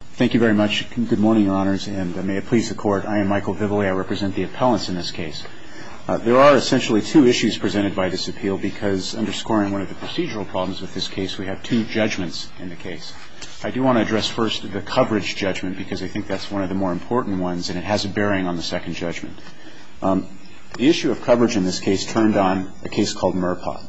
Thank you very much. Good morning, Your Honors. And may it please the Court, I am Michael Vivoli. I represent the appellants in this case. There are essentially two issues presented by this appeal because, underscoring one of the procedural problems with this case, we have two judgments in the case. I do want to address first the coverage judgment because I think that's one of the more important ones, and it has a bearing on the second judgment. The issue of coverage in this case turned on a case called Murpott.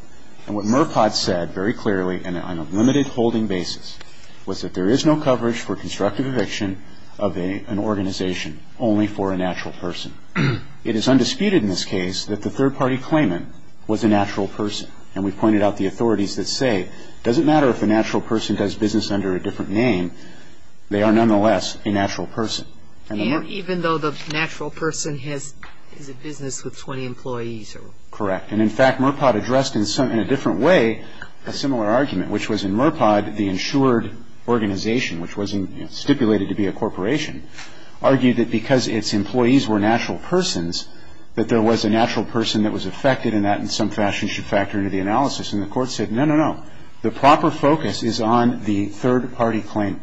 And what Murpott said very clearly and on a limited holding basis was that there is no coverage for constructive eviction of an organization only for a natural person. It is undisputed in this case that the third-party claimant was a natural person. And we pointed out the authorities that say it doesn't matter if a natural person does business under a different name, they are nonetheless a natural person. And even though the natural person has a business with 20 employees? Correct. And, in fact, Murpott addressed in a different way a similar argument, which was in Murpott the insured organization, which was stipulated to be a corporation, argued that because its employees were natural persons, that there was a natural person that was affected and that in some fashion should factor into the analysis. And the Court said, no, no, no. The proper focus is on the third-party claimant.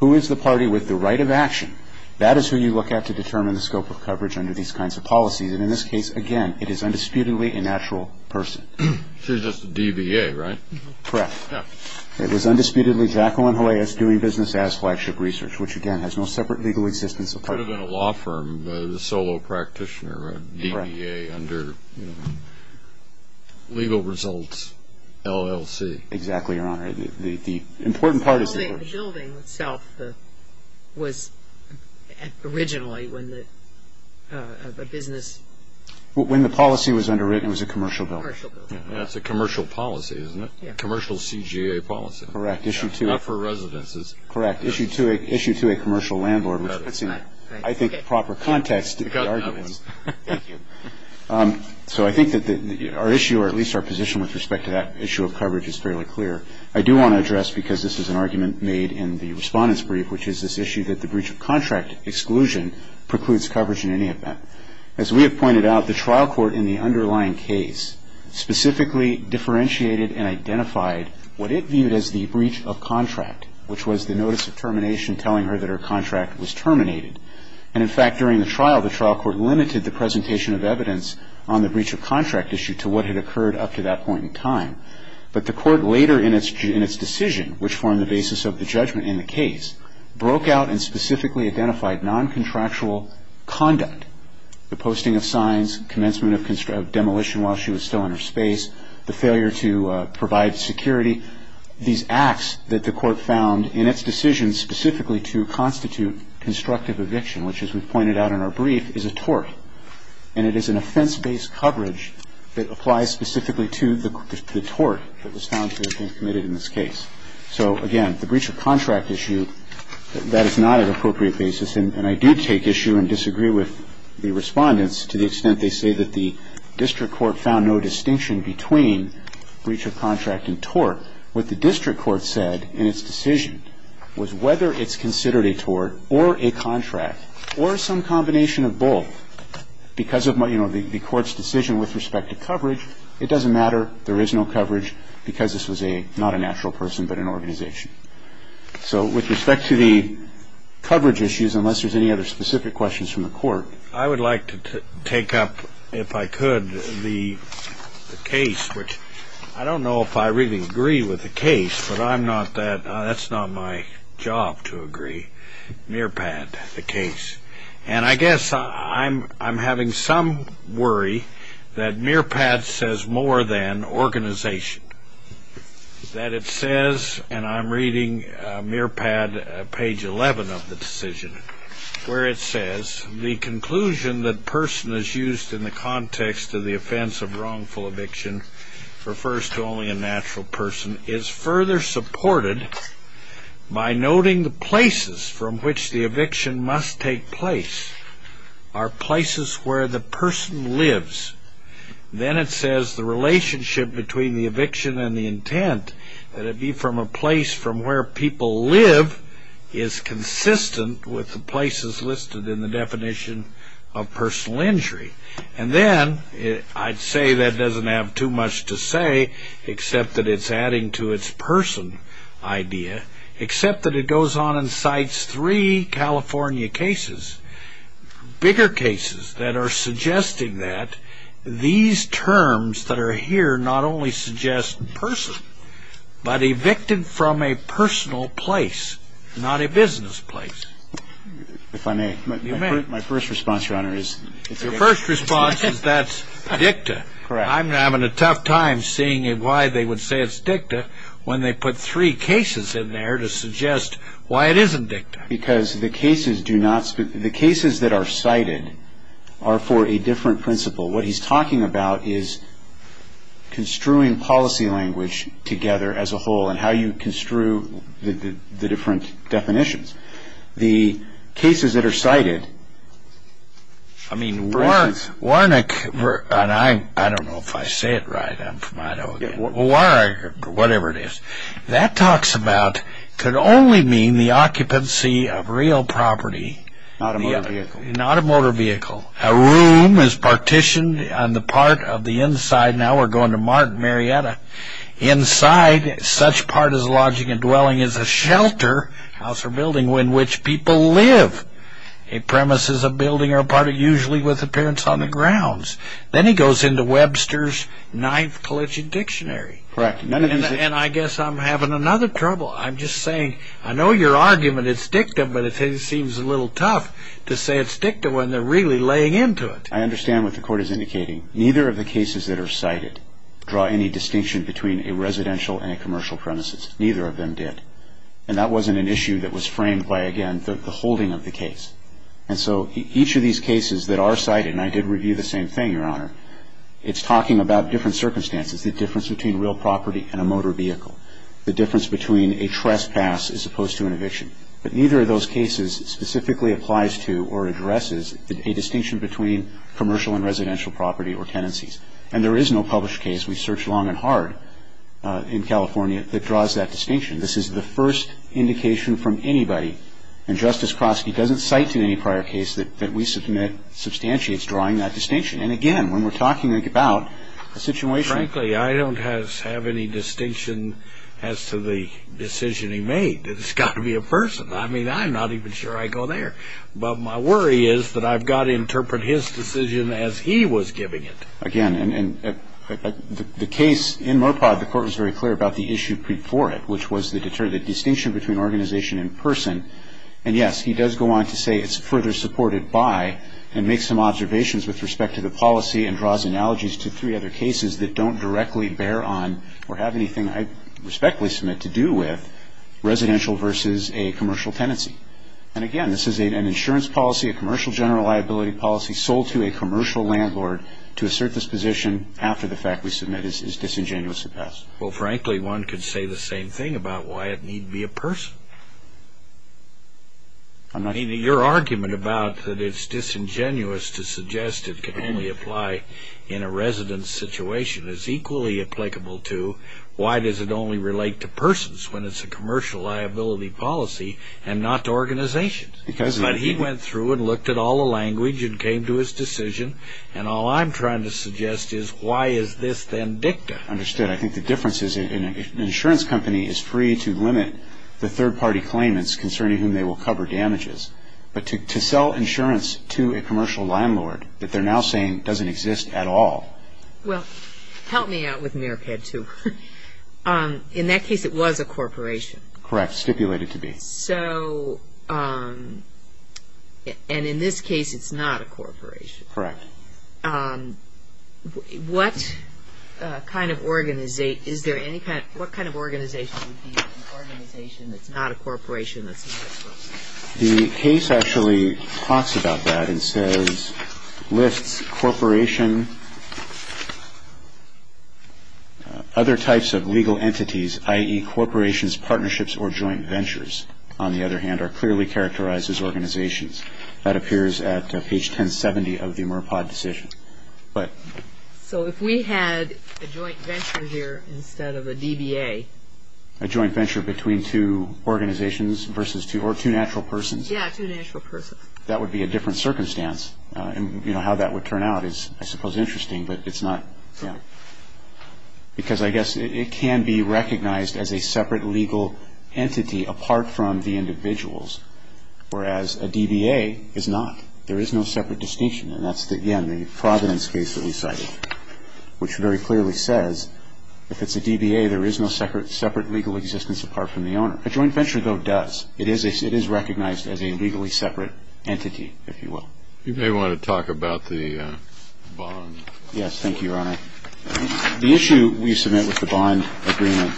Who is the party with the right of action? That is who you look at to determine the scope of coverage under these kinds of policies. And in this case, again, it is undisputedly a natural person. She was just a DBA, right? Correct. It was undisputedly Jacqueline Jaleas doing business as flagship research, which, again, has no separate legal existence. Could have been a law firm, a solo practitioner, a DBA under legal results, LLC. Exactly, Your Honor. The building itself was originally a business. When the policy was underwritten, it was a commercial building. That's a commercial policy, isn't it? Commercial CGA policy. Correct. Not for residences. Correct. Issued to a commercial landlord, which puts in, I think, proper context to the argument. Thank you. So I think that our issue, or at least our position with respect to that issue of coverage, is fairly clear. I do want to address, because this is an argument made in the Respondent's Brief, which is this issue that the breach of contract exclusion precludes coverage in any event. As we have pointed out, the trial court in the underlying case specifically differentiated and identified what it viewed as the breach of contract, which was the notice of termination telling her that her contract was terminated. And, in fact, during the trial, the trial court limited the presentation of evidence on the breach of contract issue to what had occurred up to that point in time. But the court later in its decision, which formed the basis of the judgment in the case, broke out and specifically identified non-contractual conduct, the posting of signs, commencement of demolition while she was still in her space, the failure to provide security, these acts that the court found in its decision specifically to constitute constructive eviction, which, as we've pointed out in our brief, is a tort. And it is an offense-based coverage that applies specifically to the tort that was found to have been committed in this case. So, again, the breach of contract issue, that is not an appropriate basis. And I do take issue and disagree with the Respondents to the extent they say that the district court found no distinction between breach of contract and tort. What the district court said in its decision was whether it's considered a tort or a contract or some combination of both because of the court's decision with respect to coverage. It doesn't matter. There is no coverage because this was not a natural person but an organization. So with respect to the coverage issues, unless there's any other specific questions from the court. I would like to take up, if I could, the case, which I don't know if I really agree with the case, but that's not my job to agree, Mearpad, the case. And I guess I'm having some worry that Mearpad says more than organization, that it says, and I'm reading Mearpad page 11 of the decision, where it says, the conclusion that person is used in the context of the offense of wrongful eviction refers to only a natural person is further supported by noting the places from which the eviction must take place are places where the person lives. Then it says the relationship between the eviction and the intent, that it be from a place from where people live, is consistent with the places listed in the definition of personal injury. And then I'd say that doesn't have too much to say except that it's adding to its person idea, except that it goes on and cites three California cases, bigger cases that are suggesting that these terms that are here not only suggest person, but evicted from a personal place, not a business place. If I may. You may. My first response, Your Honor, is it's a dicta. Your first response is that's dicta. Correct. I'm having a tough time seeing why they would say it's dicta when they put three cases in there to suggest why it isn't dicta. Because the cases that are cited are for a different principle. What he's talking about is construing policy language together as a whole and how you construe the different definitions. The cases that are cited, for instance. I mean, Warnick, and I don't know if I say it right. I'm from Idaho again. Warwick or whatever it is. That talks about could only mean the occupancy of real property. Not a motor vehicle. Not a motor vehicle. A room is partitioned on the part of the inside. Now we're going to Marietta. Inside such part as lodging and dwelling is a shelter, house, or building in which people live. A premise is a building or a part usually with appearance on the grounds. Then he goes into Webster's knife-glitching dictionary. Correct. And I guess I'm having another trouble. I'm just saying I know your argument is dicta, but it seems a little tough to say it's dicta when they're really laying into it. I understand what the court is indicating. Neither of the cases that are cited draw any distinction between a residential and a commercial premises. Neither of them did. And that wasn't an issue that was framed by, again, the holding of the case. And so each of these cases that are cited, and I did review the same thing, Your Honor, it's talking about different circumstances, the difference between real property and a motor vehicle, the difference between a trespass as opposed to an eviction. But neither of those cases specifically applies to or addresses a distinction between commercial and residential property or tenancies. And there is no published case we searched long and hard in California that draws that distinction. This is the first indication from anybody, and Justice Kroski doesn't cite in any prior case that we submit substantiates drawing that distinction. And, again, when we're talking about a situation. Frankly, I don't have any distinction as to the decision he made. It's got to be a person. I mean, I'm not even sure I go there. But my worry is that I've got to interpret his decision as he was giving it. Again, the case in Murpod, the court was very clear about the issue before it, which was the distinction between organization and person. And, yes, he does go on to say it's further supported by and make some observations with respect to the policy and draws analogies to three other cases that don't directly bear on or have anything I respectfully submit to do with residential versus a commercial tenancy. And, again, this is an insurance policy, a commercial general liability policy, sold to a commercial landlord to assert this position after the fact. We submit it's disingenuous to pass. Well, frankly, one could say the same thing about why it need be a person. I mean, your argument about that it's disingenuous to suggest it can only apply in a residence situation is equally applicable to why does it only relate to persons when it's a commercial liability policy and not to organizations. But he went through and looked at all the language and came to his decision, and all I'm trying to suggest is why is this then dicta? Understood. I think the difference is an insurance company is free to limit the third-party claimants concerning whom they will cover damages, but to sell insurance to a commercial landlord that they're now saying doesn't exist at all. Well, help me out with Meriped, too. In that case, it was a corporation. Correct. Stipulated to be. So, and in this case, it's not a corporation. Correct. What kind of organization would be an organization that's not a corporation that's not a corporation? The case actually talks about that and says, lists corporation other types of legal entities, i.e., corporations, partnerships, or joint ventures, on the other hand, are clearly characterized as organizations. That appears at page 1070 of the Meriped decision. So if we had a joint venture here instead of a DBA. A joint venture between two organizations versus two, or two natural persons. Yeah, two natural persons. That would be a different circumstance. And, you know, how that would turn out is, I suppose, interesting, but it's not. Because I guess it can be recognized as a separate legal entity apart from the individuals, whereas a DBA is not. There is no separate distinction, and that's, again, the Providence case that we cited, which very clearly says if it's a DBA, there is no separate legal existence apart from the owner. A joint venture, though, does. It is recognized as a legally separate entity, if you will. You may want to talk about the bond. Yes. Thank you, Your Honor. The issue we submit with the bond agreement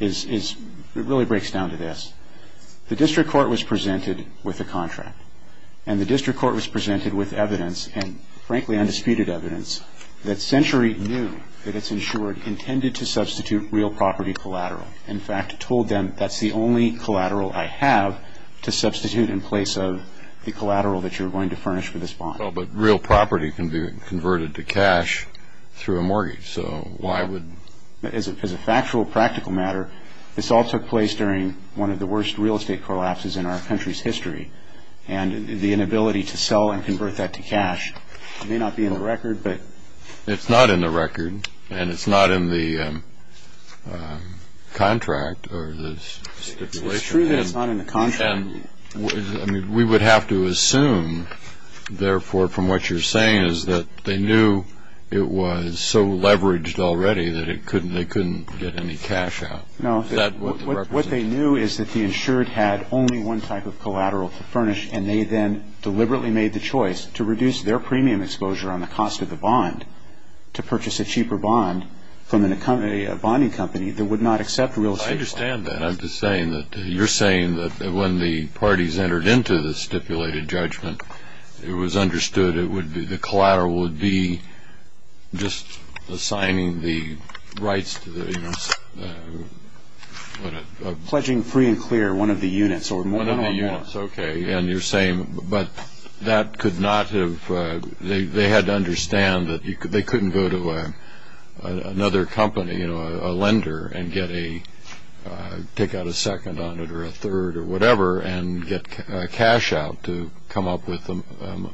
is, it really breaks down to this. The district court was presented with a contract, and the district court was presented with evidence and, frankly, undisputed evidence, that Century knew that it's insured intended to substitute real property collateral. In fact, told them that's the only collateral I have to substitute in place of the collateral that you're going to furnish for this bond. But real property can be converted to cash through a mortgage, so why would? As a factual, practical matter, this all took place during one of the worst real estate collapses in our country's history, and the inability to sell and convert that to cash may not be in the record, but... It's not in the record, and it's not in the contract or the stipulation. It's true that it's not in the contract. And we would have to assume, therefore, from what you're saying, is that they knew it was so leveraged already that they couldn't get any cash out. No, what they knew is that the insured had only one type of collateral to furnish, and they then deliberately made the choice to reduce their premium exposure on the cost of the bond to purchase a cheaper bond from a bonding company that would not accept real estate. I understand that. I'm just saying that you're saying that when the parties entered into the stipulated judgment, it was understood the collateral would be just assigning the rights to the... Pledging free and clear one of the units or more. One of the units, okay, and you're saying... But that could not have... They had to understand that they couldn't go to another company, a lender, and take out a second on it or a third or whatever and get cash out to come up with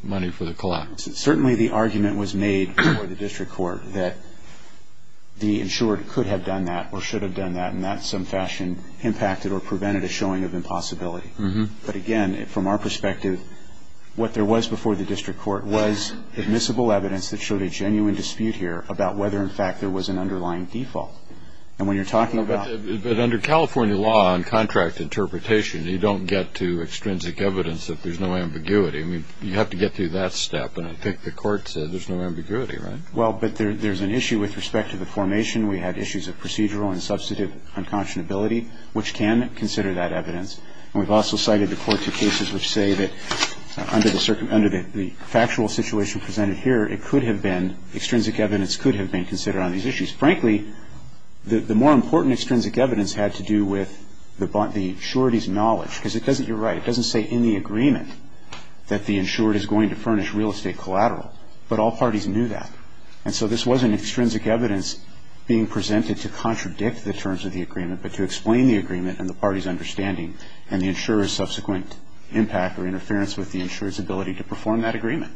money for the collateral. Certainly the argument was made before the district court that the insured could have done that or should have done that, and that in some fashion impacted or prevented a showing of impossibility. But again, from our perspective, what there was before the district court was admissible evidence that showed a genuine dispute here about whether, in fact, there was an underlying default. And when you're talking about... But under California law on contract interpretation, you don't get to extrinsic evidence that there's no ambiguity. I mean, you have to get through that step, and I think the court said there's no ambiguity, right? Well, but there's an issue with respect to the formation. We had issues of procedural and substantive unconscionability, which can consider that evidence. And we've also cited the court to cases which say that under the factual situation presented here, it could have been... extrinsic evidence could have been considered on these issues. Frankly, the more important extrinsic evidence had to do with the surety's knowledge, because it doesn't... You're right. It doesn't say in the agreement that the insured is going to furnish real estate collateral, but all parties knew that. And so this wasn't extrinsic evidence being presented to contradict the terms of the agreement, but to explain the agreement and the party's understanding and the insurer's subsequent impact or interference with the insurer's ability to perform that agreement.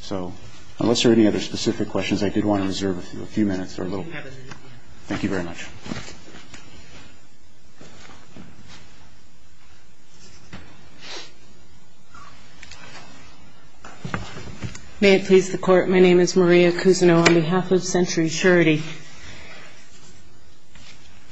So unless there are any other specific questions, I did want to reserve a few minutes or a little... We have a minute. Thank you very much. May it please the Court, my name is Maria Cousineau on behalf of Century Surety.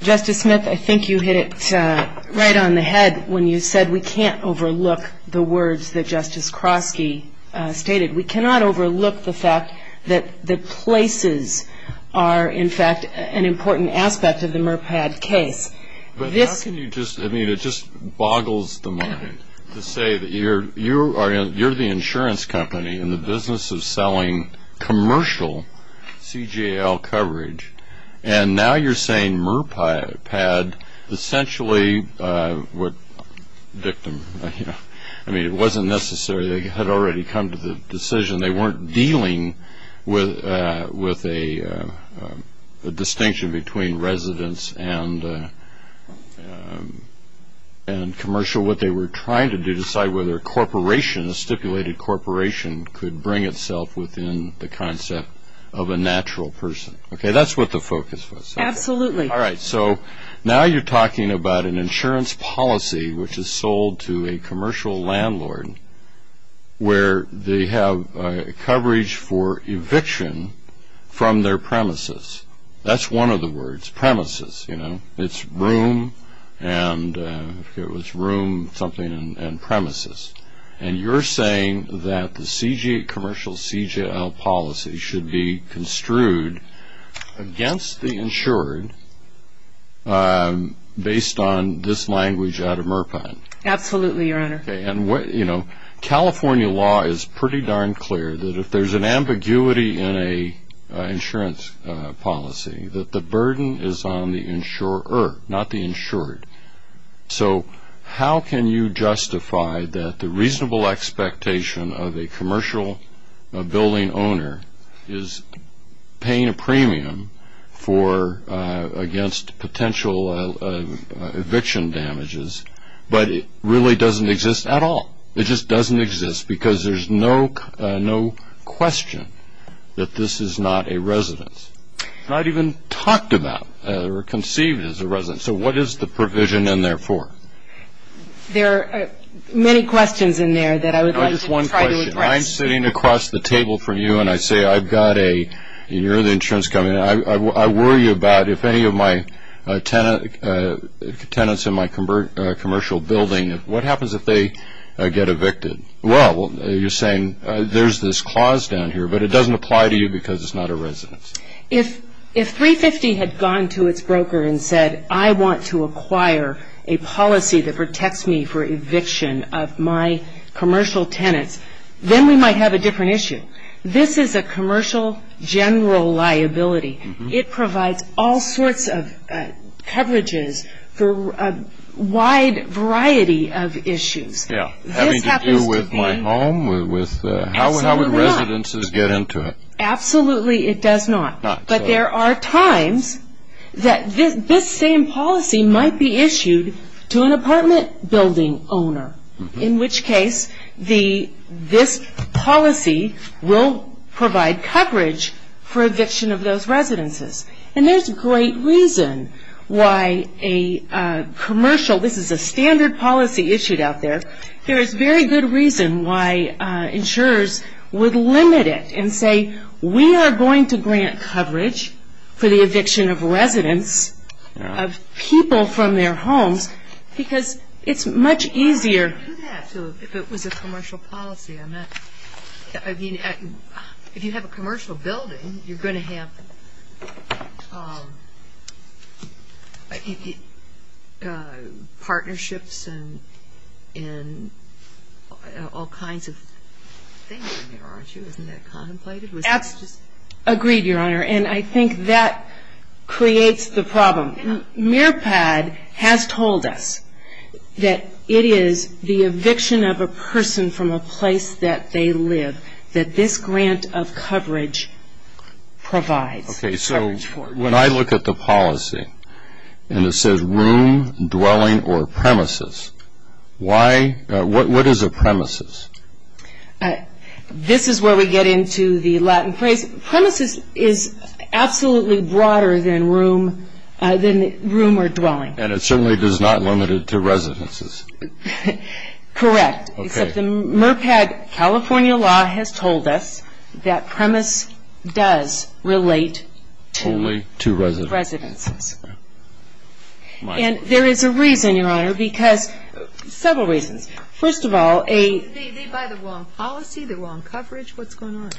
Justice Smith, I think you hit it right on the head when you said that we can't overlook the words that Justice Kroski stated. We cannot overlook the fact that places are, in fact, an important aspect of the MRPAD case. But how can you just... I mean, it just boggles the mind to say that you're the insurance company in the business of selling commercial CGL coverage, and now you're saying MRPAD essentially would... I mean, it wasn't necessary. They had already come to the decision. They weren't dealing with a distinction between residence and commercial. What they were trying to do was decide whether a corporation, a stipulated corporation, could bring itself within the concept of a natural person. Okay, that's what the focus was. Absolutely. All right. So now you're talking about an insurance policy which is sold to a commercial landlord where they have coverage for eviction from their premises. That's one of the words, premises, you know. It's room and... if it was room something and premises. And you're saying that the commercial CGL policy should be construed against the insured based on this language out of MRPAD. Absolutely, Your Honor. Okay. And, you know, California law is pretty darn clear that if there's an ambiguity in an insurance policy, that the burden is on the insurer, not the insured. So how can you justify that the reasonable expectation of a commercial building owner is paying a premium against potential eviction damages, but it really doesn't exist at all? It just doesn't exist because there's no question that this is not a residence. It's not even talked about or conceived as a residence. So what is the provision in there for? There are many questions in there that I would like to try to address. Just one question. I'm sitting across the table from you and I say I've got a... you're in the insurance company. I worry about if any of my tenants in my commercial building, what happens if they get evicted? Well, you're saying there's this clause down here, but it doesn't apply to you because it's not a residence. If 350 had gone to its broker and said, I want to acquire a policy that protects me for eviction of my commercial tenants, then we might have a different issue. This is a commercial general liability. It provides all sorts of coverages for a wide variety of issues. Yeah, having to do with my home, with... How would residences get into it? Absolutely it does not. But there are times that this same policy might be issued to an apartment building owner, in which case this policy will provide coverage for eviction of those residences. And there's great reason why a commercial... this is a standard policy issued out there. There is very good reason why insurers would limit it and say, we are going to grant coverage for the eviction of residents, of people from their homes, because it's much easier... If it was a commercial policy, I mean, if you have a commercial building, you're going to have partnerships and all kinds of things in there, aren't you? Isn't that contemplated? Absolutely. Agreed, Your Honor. And I think that creates the problem. MIRPAD has told us that it is the eviction of a person from a place that they live, that this grant of coverage provides. Okay, so when I look at the policy and it says room, dwelling, or premises, why... what is a premises? This is where we get into the Latin phrase. Premises is absolutely broader than room or dwelling. And it certainly is not limited to residences. Correct. Except the MIRPAD California law has told us that premise does relate to... Only to residents. Residences. And there is a reason, Your Honor, because several reasons. First of all, a... They buy the wrong policy, the wrong coverage. What's going on?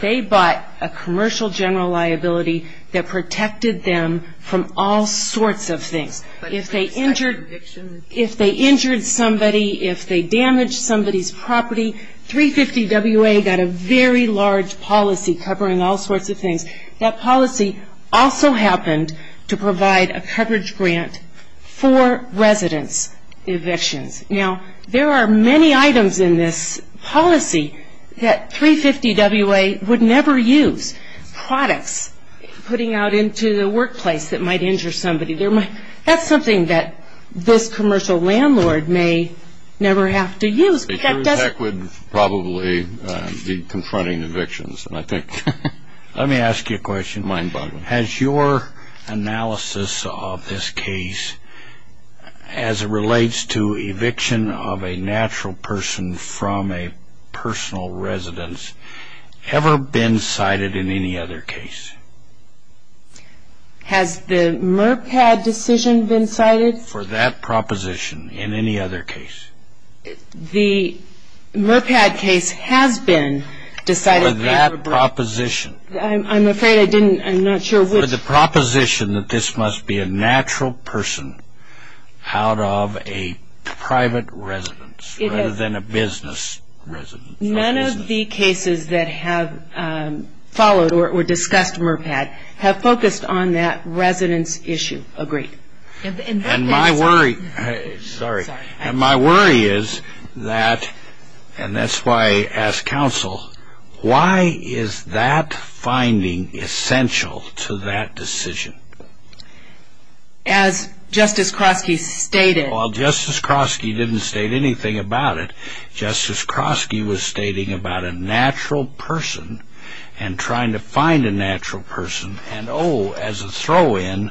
They bought a commercial general liability that protected them from all sorts of things. If they injured somebody, if they damaged somebody's property, 350WA got a very large policy covering all sorts of things. That policy also happened to provide a coverage grant for residence evictions. Now, there are many items in this policy that 350WA would never use. Products, putting out into the workplace that might injure somebody. That's something that this commercial landlord may never have to use. But that doesn't... The U.S. Tech would probably be confronting evictions, and I think... Let me ask you a question. Mind boggling. Has your analysis of this case, as it relates to eviction of a natural person from a personal residence, ever been cited in any other case? Has the MurPad decision been cited? For that proposition, in any other case. The MurPad case has been decided... For that proposition. I'm afraid I didn't... I'm not sure which... For the proposition that this must be a natural person out of a private residence, rather than a business residence. None of the cases that have followed or discussed MurPad have focused on that residence issue. Agreed. And my worry... Sorry. And my worry is that, and that's why I ask counsel, why is that finding essential to that decision? As Justice Kroski stated... While Justice Kroski didn't state anything about it, Justice Kroski was stating about a natural person and trying to find a natural person. And, oh, as a throw-in,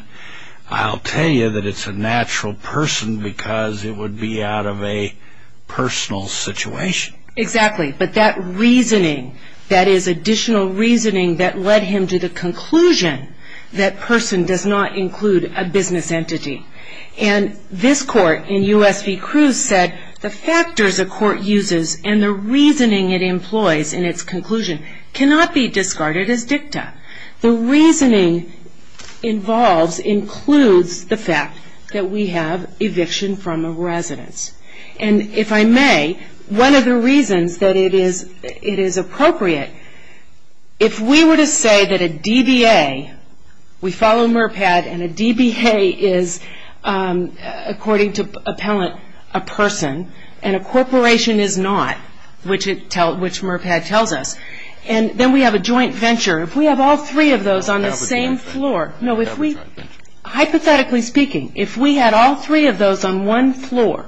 I'll tell you that it's a natural person because it would be out of a personal situation. Exactly. But that reasoning, that is additional reasoning that led him to the conclusion that person does not include a business entity. And this court in U.S. v. Cruz said, the factors a court uses and the reasoning it employs in its conclusion cannot be discarded as dicta. The reasoning involved includes the fact that we have eviction from a residence. And if I may, one of the reasons that it is appropriate, if we were to say that a DBA, we follow MURPAD, and a DBA is, according to appellant, a person, and a corporation is not, which MURPAD tells us, and then we have a joint venture. If we have all three of those on the same floor... Capitalization. No, if we... Capitalization. Hypothetically speaking, if we had all three of those on one floor,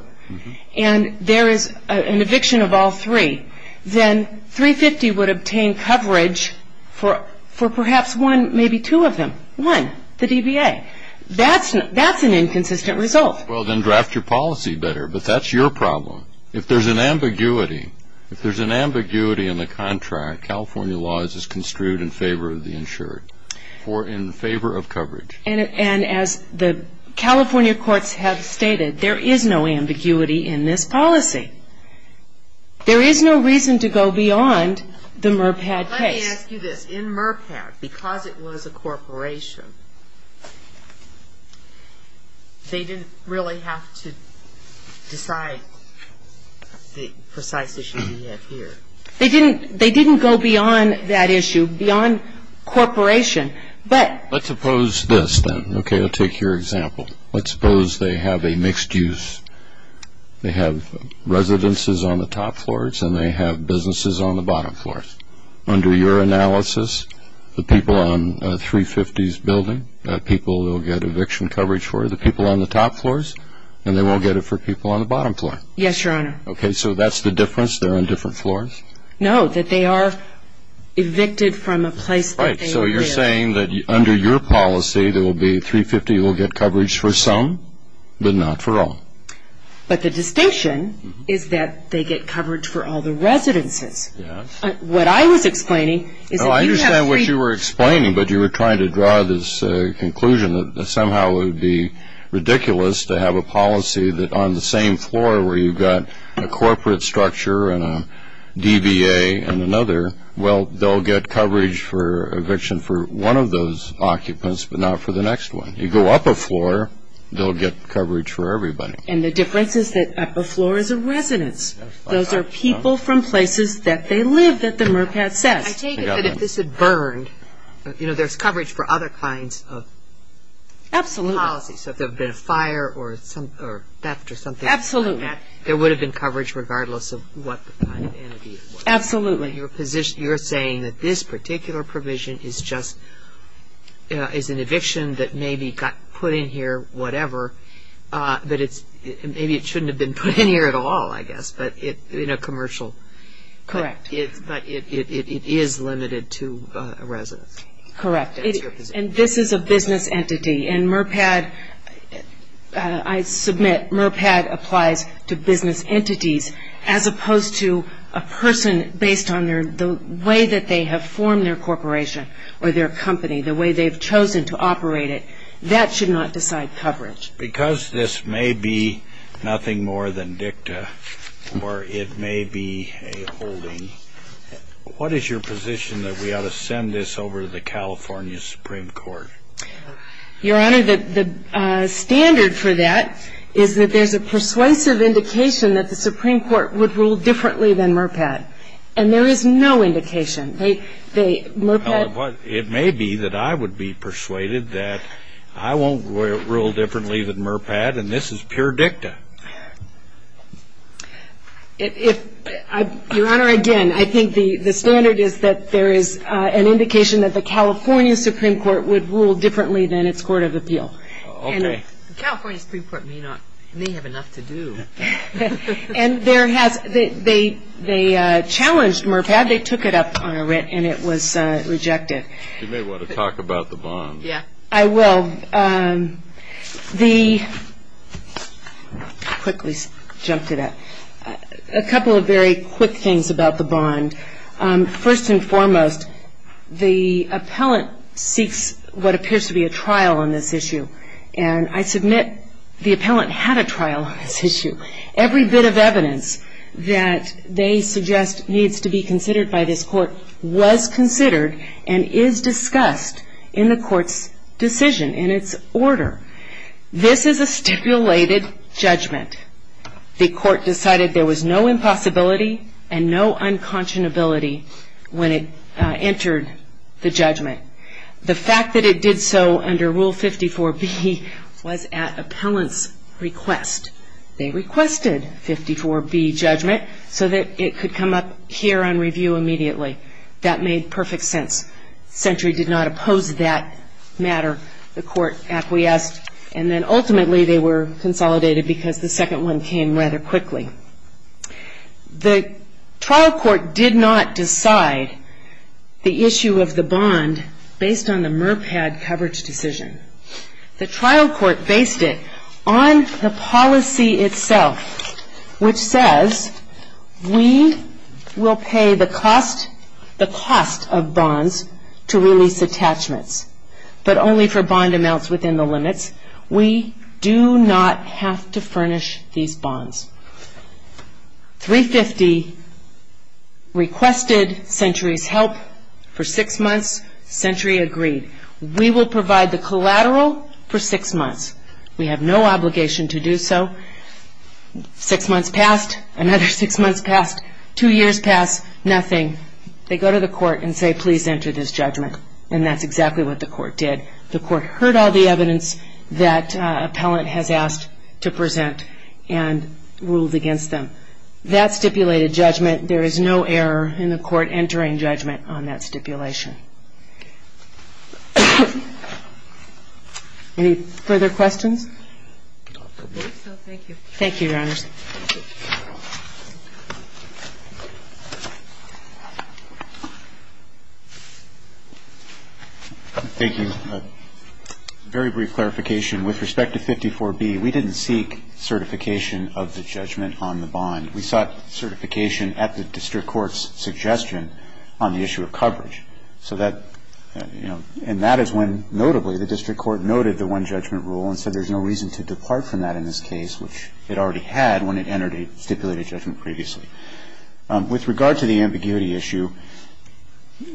and there is an eviction of all three, then 350 would obtain coverage for perhaps one, maybe two of them. One, the DBA. That's an inconsistent result. Well, then draft your policy better, but that's your problem. If there's an ambiguity, if there's an ambiguity in the contract, California law is construed in favor of the insured, or in favor of coverage. And as the California courts have stated, there is no ambiguity in this policy. There is no reason to go beyond the MURPAD case. Let me ask you this. In MURPAD, because it was a corporation, they didn't really have to decide the precise issue we have here. They didn't go beyond that issue, beyond corporation, but... Let's suppose this, then. Okay, I'll take your example. Let's suppose they have a mixed use. They have residences on the top floors, and they have businesses on the bottom floors. Under your analysis, the people on 350's building, people will get eviction coverage for the people on the top floors, and they won't get it for people on the bottom floor. Yes, Your Honor. Okay, so that's the difference? They're on different floors? No, that they are evicted from a place that they were in. So you're saying that under your policy, 350 will get coverage for some, but not for all? But the distinction is that they get coverage for all the residences. What I was explaining is that you have... I understand what you were explaining, but you were trying to draw this conclusion that somehow it would be ridiculous to have a policy that on the same floor where you've got a corporate structure and a DBA and another, well, they'll get coverage for eviction for one of those occupants, but not for the next one. You go up a floor, they'll get coverage for everybody. And the difference is that up a floor is a residence. Those are people from places that they live, that the MRPAT says. I take it that if this had burned, you know, there's coverage for other kinds of... Absolutely.... policies. So if there had been a fire or theft or something... Absolutely.... there would have been coverage regardless of what kind of entity it was. Absolutely. You're saying that this particular provision is just an eviction that maybe got put in here, whatever, that maybe it shouldn't have been put in here at all, I guess, but in a commercial... Correct.... but it is limited to a residence. Correct. And this is a business entity. And MRPAT, I submit, MRPAT applies to business entities, as opposed to a person based on the way that they have formed their corporation or their company, the way they've chosen to operate it. That should not decide coverage. Because this may be nothing more than dicta or it may be a holding, what is your position that we ought to send this over to the California Supreme Court? Your Honor, the standard for that is that there's a persuasive indication that the Supreme Court would rule differently than MRPAT. And there is no indication. MRPAT... Well, it may be that I would be persuaded that I won't rule differently than MRPAT, and this is pure dicta. If... Your Honor, again, I think the standard is that there is an indication that the California Supreme Court would rule differently than its court of appeal. Okay. The California Supreme Court may not... may have enough to do. And there has... they challenged MRPAT. They took it up on a writ and it was rejected. You may want to talk about the bond. Yeah, I will. The... I'll quickly jump to that. A couple of very quick things about the bond. First and foremost, the appellant seeks what appears to be a trial on this issue. And I submit the appellant had a trial on this issue. Every bit of evidence that they suggest needs to be considered by this court was considered and is discussed in the court's decision, in its order. This is a stipulated judgment. The court decided there was no impossibility and no unconscionability when it entered the judgment. The fact that it did so under Rule 54B was at appellant's request. They requested 54B judgment so that it could come up here on review immediately. That made perfect sense. Century did not oppose that matter. The court acquiesced, and then ultimately they were consolidated because the second one came rather quickly. The trial court did not decide the issue of the bond based on the MRPAT coverage decision. The trial court based it on the policy itself, which says we will pay the cost of bonds to release attachments, but only for bond amounts within the limits. We do not have to furnish these bonds. 350 requested Century's help for six months. Century agreed. We will provide the collateral for six months. We have no obligation to do so. Six months passed, another six months passed, two years passed, nothing. They go to the court and say, please enter this judgment. And that's exactly what the court did. The court heard all the evidence that appellant has asked to present and ruled against them. That stipulated judgment, there is no error in the court entering judgment on that stipulation. Any further questions? Thank you. Thank you, Your Honors. Thank you. A very brief clarification. With respect to 54B, we didn't seek certification of the judgment on the bond. We sought certification at the district court's suggestion on the issue of coverage. So that, you know, and that is when notably the district court noted the one-judgment rule and said there is no reason to depart from that in this case, which it already had when it entered a stipulated judgment previously. With regard to the ambiguity issue,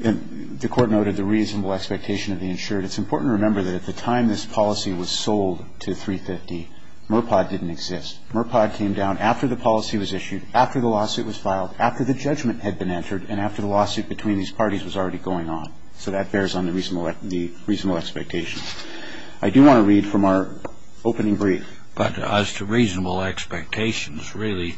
the court noted the reasonable expectation of the insured. It's important to remember that at the time this policy was sold to 350, MURPOD didn't exist. MURPOD came down after the policy was issued, after the lawsuit was filed, after the judgment had been entered, and after the lawsuit between these parties was already going on. So that bears on the reasonable expectation. I do want to read from our opening brief. But as to reasonable expectations, really,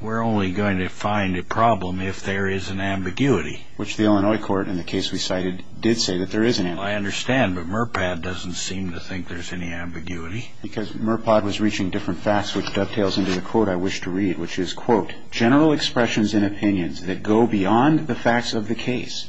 we're only going to find a problem if there is an ambiguity. Which the Illinois court, in the case we cited, did say that there is an ambiguity. I understand, but MURPOD doesn't seem to think there's any ambiguity. Because MURPOD was reaching different facts, which dovetails into the quote I wish to read, which is, quote, general expressions and opinions that go beyond the facts of the case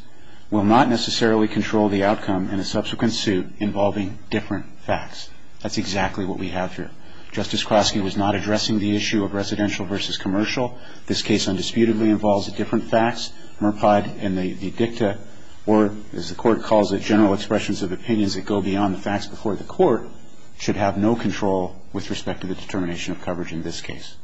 will not necessarily control the outcome in a subsequent suit involving different facts. That's exactly what we have here. Justice Klosky was not addressing the issue of residential versus commercial. This case undisputedly involves different facts. MURPOD and the dicta, or as the court calls it, general expressions of opinions that go beyond the facts before the court, should have no control with respect to the determination of coverage in this case.